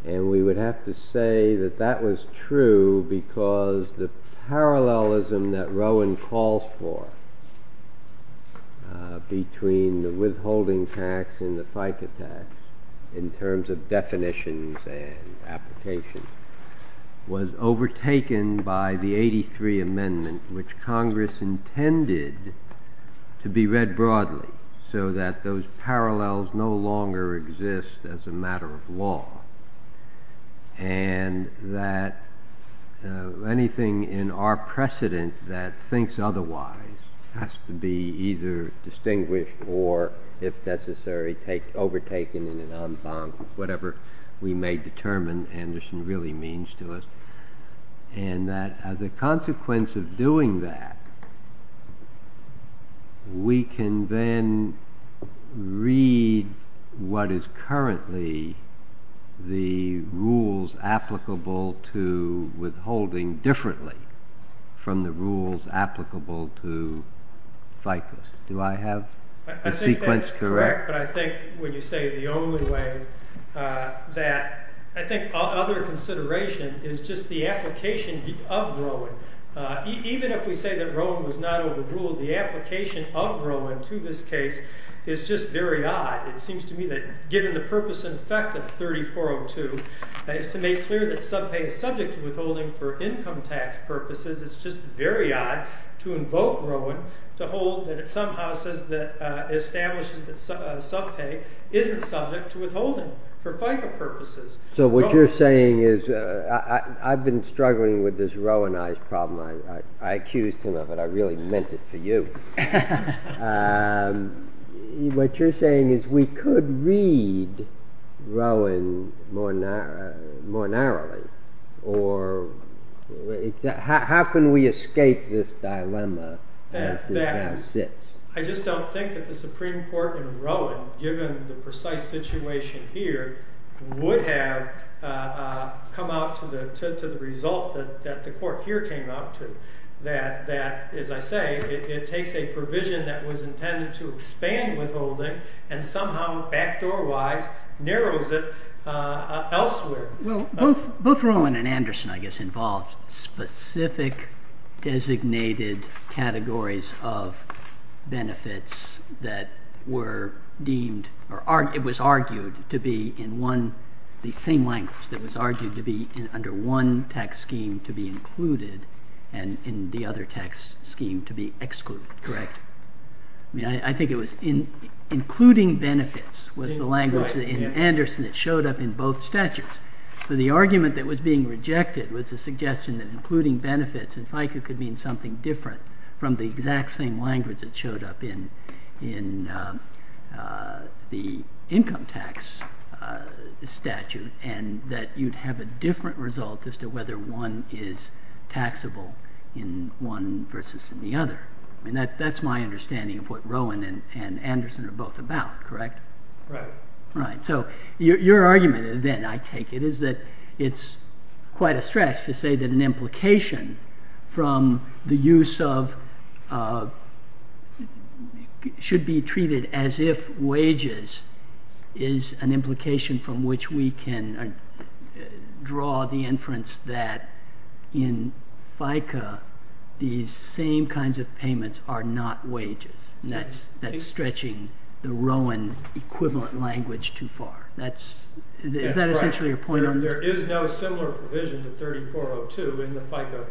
And we would have to say that that was true because the parallelism that Rowan calls for between the withholding tax and the FICA tax in terms of definitions and applications was overtaken by the 83 Amendment, which Congress intended to be read broadly so that those parallels no longer exist as a matter of law. And that anything in our precedent that thinks otherwise has to be either distinguished or, if necessary, overtaken in an en banc, whatever we may determine Anderson really means to us. And that as a consequence of doing that, we can then read what is currently the rules applicable to withholding differently from the rules applicable to FICA. Do I have the sequence correct? But I think when you say the only way, that I think other consideration is just the application of Rowan. Even if we say that Rowan was not overruled, the application of Rowan to this case is just very odd. It seems to me that given the purpose and effect of 3402 is to make clear that subpay is subject to withholding for income tax purposes, it's just very odd to invoke Rowan to hold that it somehow says that establishing subpay isn't subject to withholding for FICA purposes. So what you're saying is... I've been struggling with this Rowanized problem. I accused him of it. I really meant it for you. What you're saying is we could read Rowan more narrowly. How can we escape this dilemma? I just don't think that the Supreme Court in Rowan, given the precise situation here, would have come out to the result that the court here came out to. That, as I say, it takes a provision that was intended to expand withholding and somehow backdoor-wise narrows it elsewhere. Both Rowan and Anderson, I guess, involved specific designated categories of benefits that were deemed... It was argued to be in one... The same language that was argued to be under one tax scheme to be included and in the other tax scheme to be excluded. Correct? I think it was... Including benefits was the language in Anderson that showed up in both statutes. The argument that was being rejected was the suggestion that including benefits in FICA could mean something different from the exact same language that showed up in the income tax statute and that you'd have a different result as to whether one is taxable in one versus the other. That's my understanding of what Rowan and Anderson are both about, correct? Right. Right. So your argument, then, I take it, is that it's quite a stretch to say that an implication from the use of... should be treated as if wages is an implication from which we can draw the inference that in FICA, these same kinds of payments are not wages. That's stretching the Rowan equivalent language too far. Is that essentially your point? There is no similar provision to 3402 in the FICA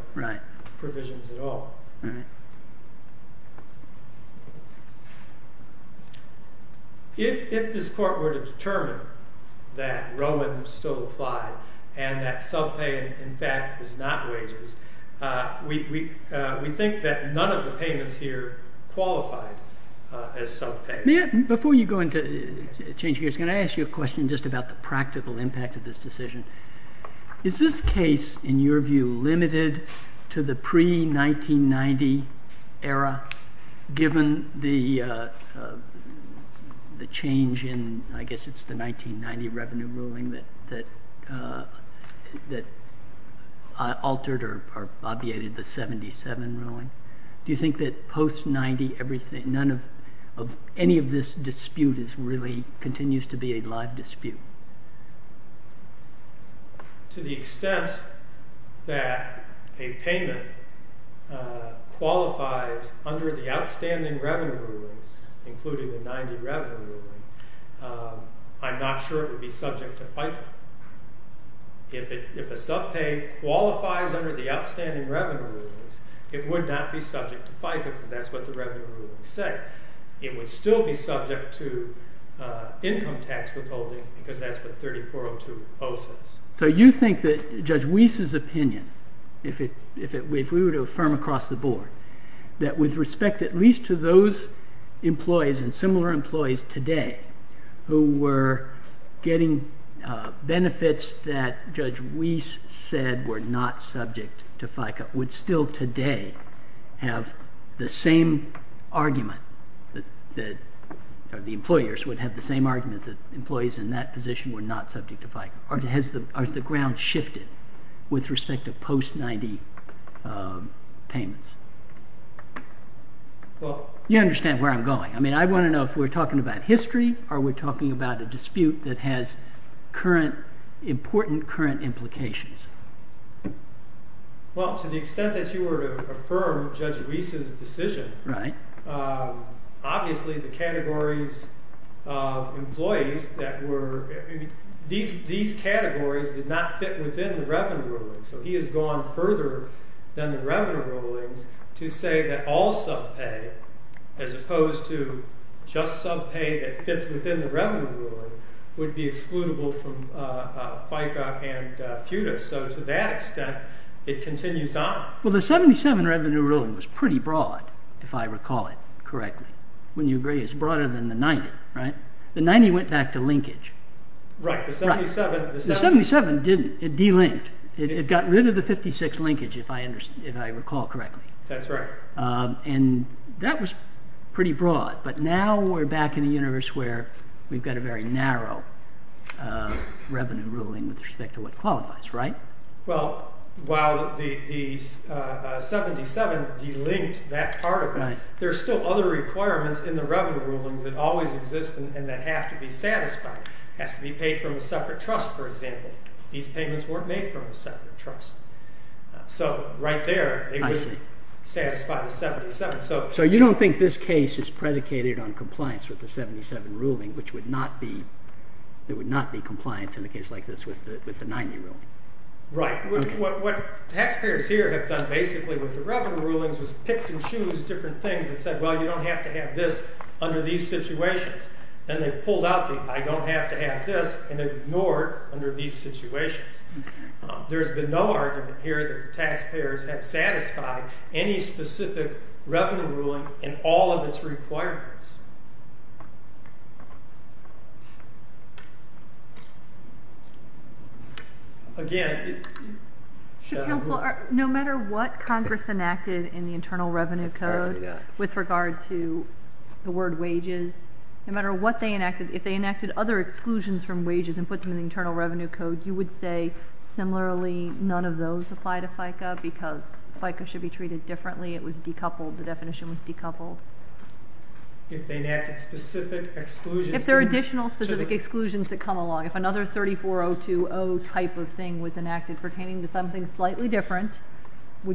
provisions at all. If this court were to determine that Rowan still applied and that subpayment, in fact, is not wages, we think that none of the payments here qualified as subpayment. Before you go into changing gears, can I ask you a question just about the practical impact of this decision? Is this case, in your view, limited to the pre-1990 era given the change in... I guess it's the 1990 revenue ruling that altered or obviated the 77 ruling? Do you think that post-90, any of this dispute continues to be a live dispute? To the extent that a payment qualifies under the outstanding revenue rulings, including the 90 revenue ruling, I'm not sure it would be subject to FICA. If a subpay qualifies under the outstanding revenue rulings, it would not be subject to FICA because that's what the revenue ruling said. It would still be subject to income tax withholding because that's what 3402 says. So you think that Judge Wiese's opinion, if we were to affirm across the board, that with respect at least to those employees and similar employees today who were getting benefits that Judge Wiese said were not subject to FICA, would still today have the same argument, or the employers would have the same argument that employees in that position were not subject to FICA? Has the ground shifted with respect to post-90 payments? You understand where I'm going. I want to know if we're talking about history or we're talking about a dispute that has important current implications. Well, to the extent that you were to affirm Judge Wiese's decision, obviously the categories of employees that were... These categories did not fit within the revenue rulings. So he has gone further than the revenue rulings to say that all subpay, as opposed to just subpay that fits within the revenue ruling, would be excludable from FICA and FUTA. So to that extent, it continues on. Well, the 77 revenue ruling was pretty broad, if I recall it correctly. Wouldn't you agree it's broader than the 90, right? The 90 went back to linkage. Right, the 77... The 77 didn't. It delinked. It got rid of the 56 linkage, if I recall correctly. That's right. And that was pretty broad. But now we're back in the universe where we've got a very narrow revenue ruling with respect to what qualifies, right? Well, while the 77 delinked that part of it, there are still other requirements in the revenue rulings that always exist and that have to be satisfied. It has to be paid from a separate trust, for example. These payments weren't made from a separate trust. So right there, they wouldn't satisfy the 77. So you don't think this case is predicated on compliance with the 77 ruling, which would not be... There would not be compliance in a case like this with the 90 ruling. Right. What taxpayers here have done basically with the revenue rulings was picked and choose different things and said, well, you don't have to have this under these situations. Then they pulled out the I don't have to have this and ignored under these situations. There's been no argument here that the taxpayers have satisfied any specific revenue ruling in all of its requirements. Again... No matter what Congress enacted in the Internal Revenue Code with regard to the word wages, no matter what they enacted, if they enacted other exclusions from wages and put them in the Internal Revenue Code, you would say similarly none of those apply to FICA because FICA should be treated differently. It was decoupled. The definition was decoupled. If they enacted specific exclusions... If there are additional specific exclusions that come along. If another 34020 type of thing was enacted pertaining to something slightly different,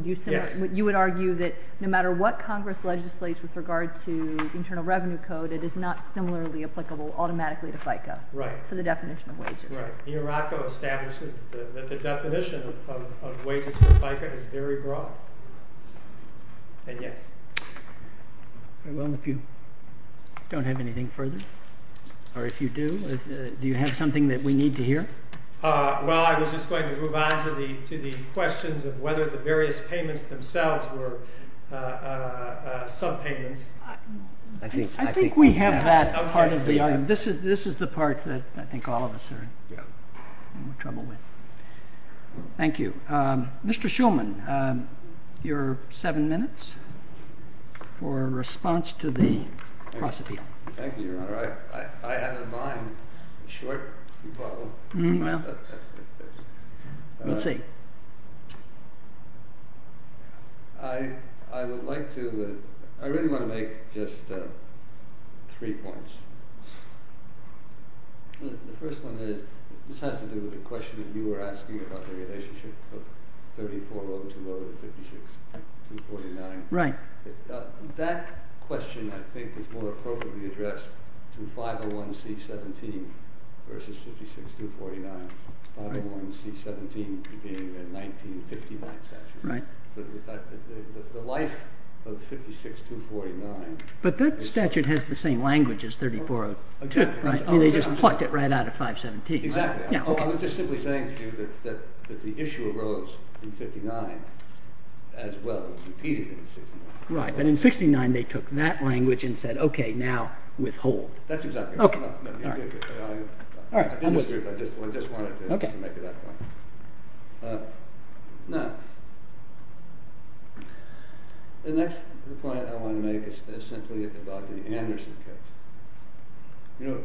you would argue that no matter what Congress legislates with regard to the Internal Revenue Code, it is not similarly applicable automatically to FICA for the definition of wages. Right. The IRACO establishes that the definition of wages for FICA is very broad. And yes. Well, if you don't have anything further, or if you do, do you have something that we need to hear? Well, I was just going to move on to the questions of whether the various payments themselves were subpayments. I think we have that part of the... This is the part that I think all of us are in trouble with. Thank you. Mr. Shulman, your seven minutes for response to the cross-appeal. Thank you, Your Honor. I have in mind a short bubble. Let's see. I would like to... make just three points. The first one is, this has to do with the question that you were asking about the relationship of 34 over 2 over 56, 249. Right. That question, I think, is more appropriately addressed to 501C17 versus 56249. 501C17 being the 1959 statute. The life of 56249... But that statute has the same language as 34 over 2. Exactly. They just plucked it right out of 517. Exactly. I was just simply saying to you that the issue arose in 59 as well as repeated in 69. Right. But in 69, they took that language and said, okay, now withhold. That's exactly right. I didn't disagree, but I just wanted to make it that point. Now, the next point I want to make is simply about the Anderson case. You know,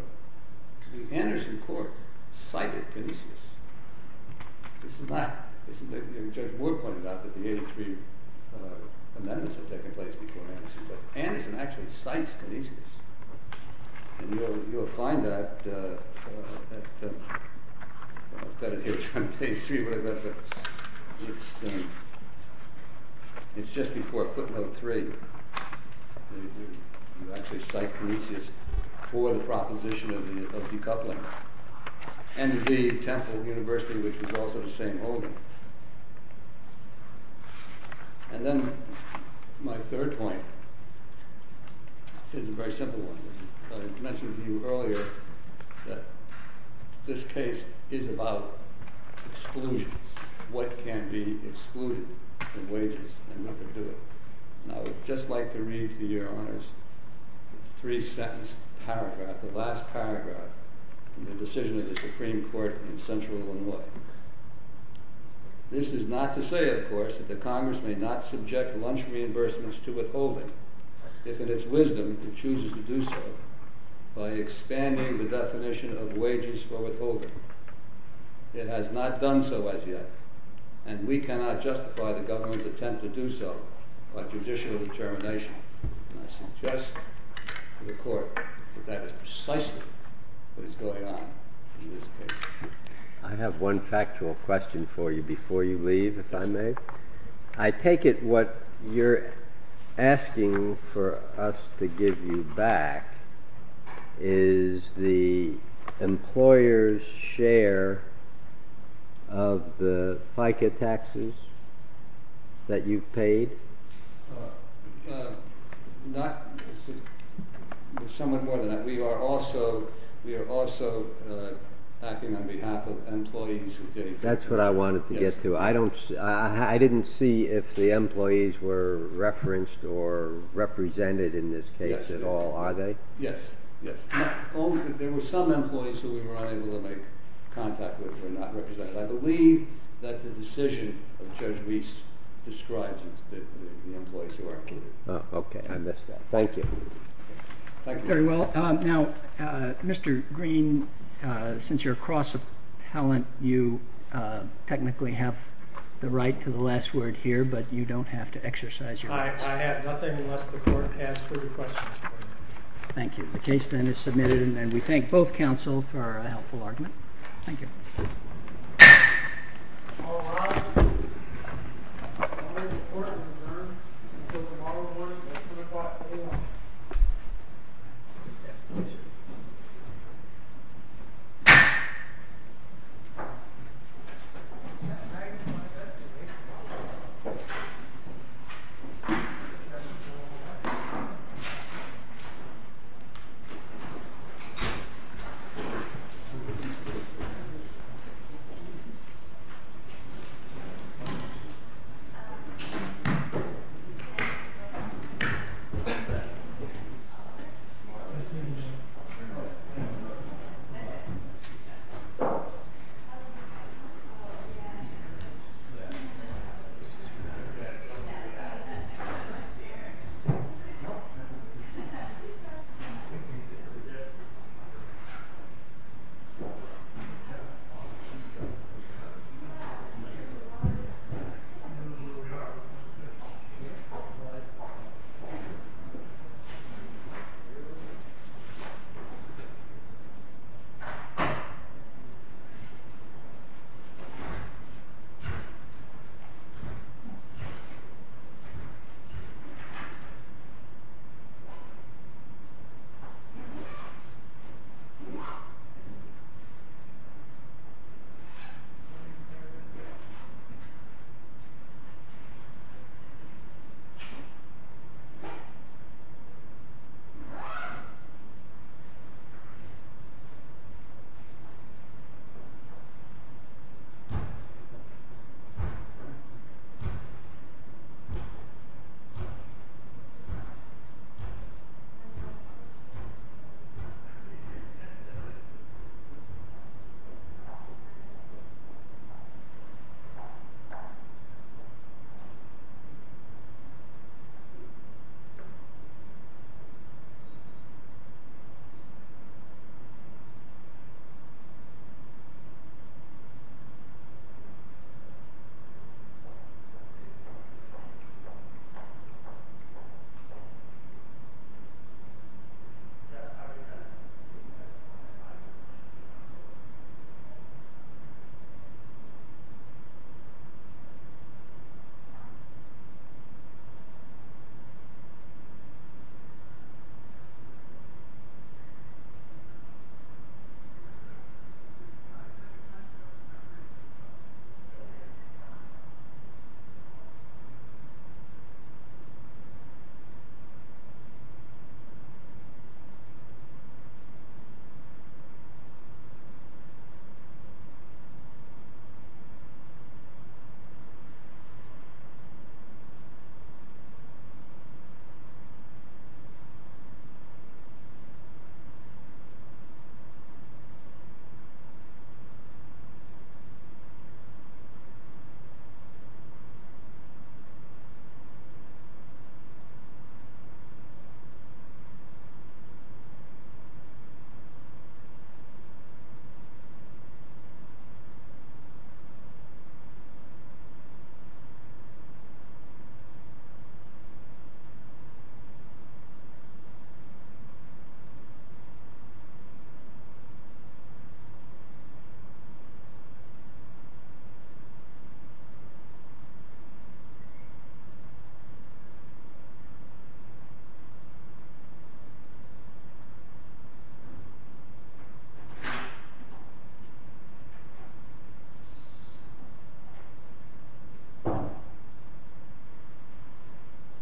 the Anderson court cited Kinesius. This is not... Judge Ward pointed out that the 83 amendments had taken place before Anderson, but Anderson actually cites Kinesius. And you'll find that... I've got it here on page 3, but it's... It's just before footnote 3. You actually cite Kinesius for the proposition of decoupling. And indeed, Temple University, which was also the same holding. And then my third point is a very simple one. I mentioned to you earlier that this case is about exclusions, what can be excluded from wages and what can do it. And I would just like to read to your honors the three-sentence paragraph, the last paragraph, in the decision of the Supreme Court in Central Illinois. This is not to say, of course, that the Congress may not subject lunch reimbursements to withholding. If in its wisdom, it chooses to do so by expanding the definition of wages for withholding. It has not done so as yet. And we cannot justify the government's attempt to do so by judicial determination. And I suggest to the court that that is precisely what is going on in this case. I have one factual question for you before you leave, if I may. I take it what you're asking for us to give you back is the employer's share of the FICA taxes that you've paid? Somewhat more than that. We are also acting on behalf of employees. That's what I wanted to get to. I didn't see if the employees were referenced or represented in this case at all. Are they? Yes. There were some employees who we were unable to make contact with who were not represented. I believe that the decision of Judge Reese describes the employees who are included. Okay. I missed that. Thank you. Very well. Now, Mr. Green, since you're a cross-appellant, you technically have the right to the last word here, but you don't have to exercise your right. I have nothing unless the court has further questions for me. Thank you. The case then is submitted, and we thank both counsel for a helpful argument. Thank you. Thank you. Thank you. Thank you. Thank you. Thank you. Thank you. Thank you. Thank you.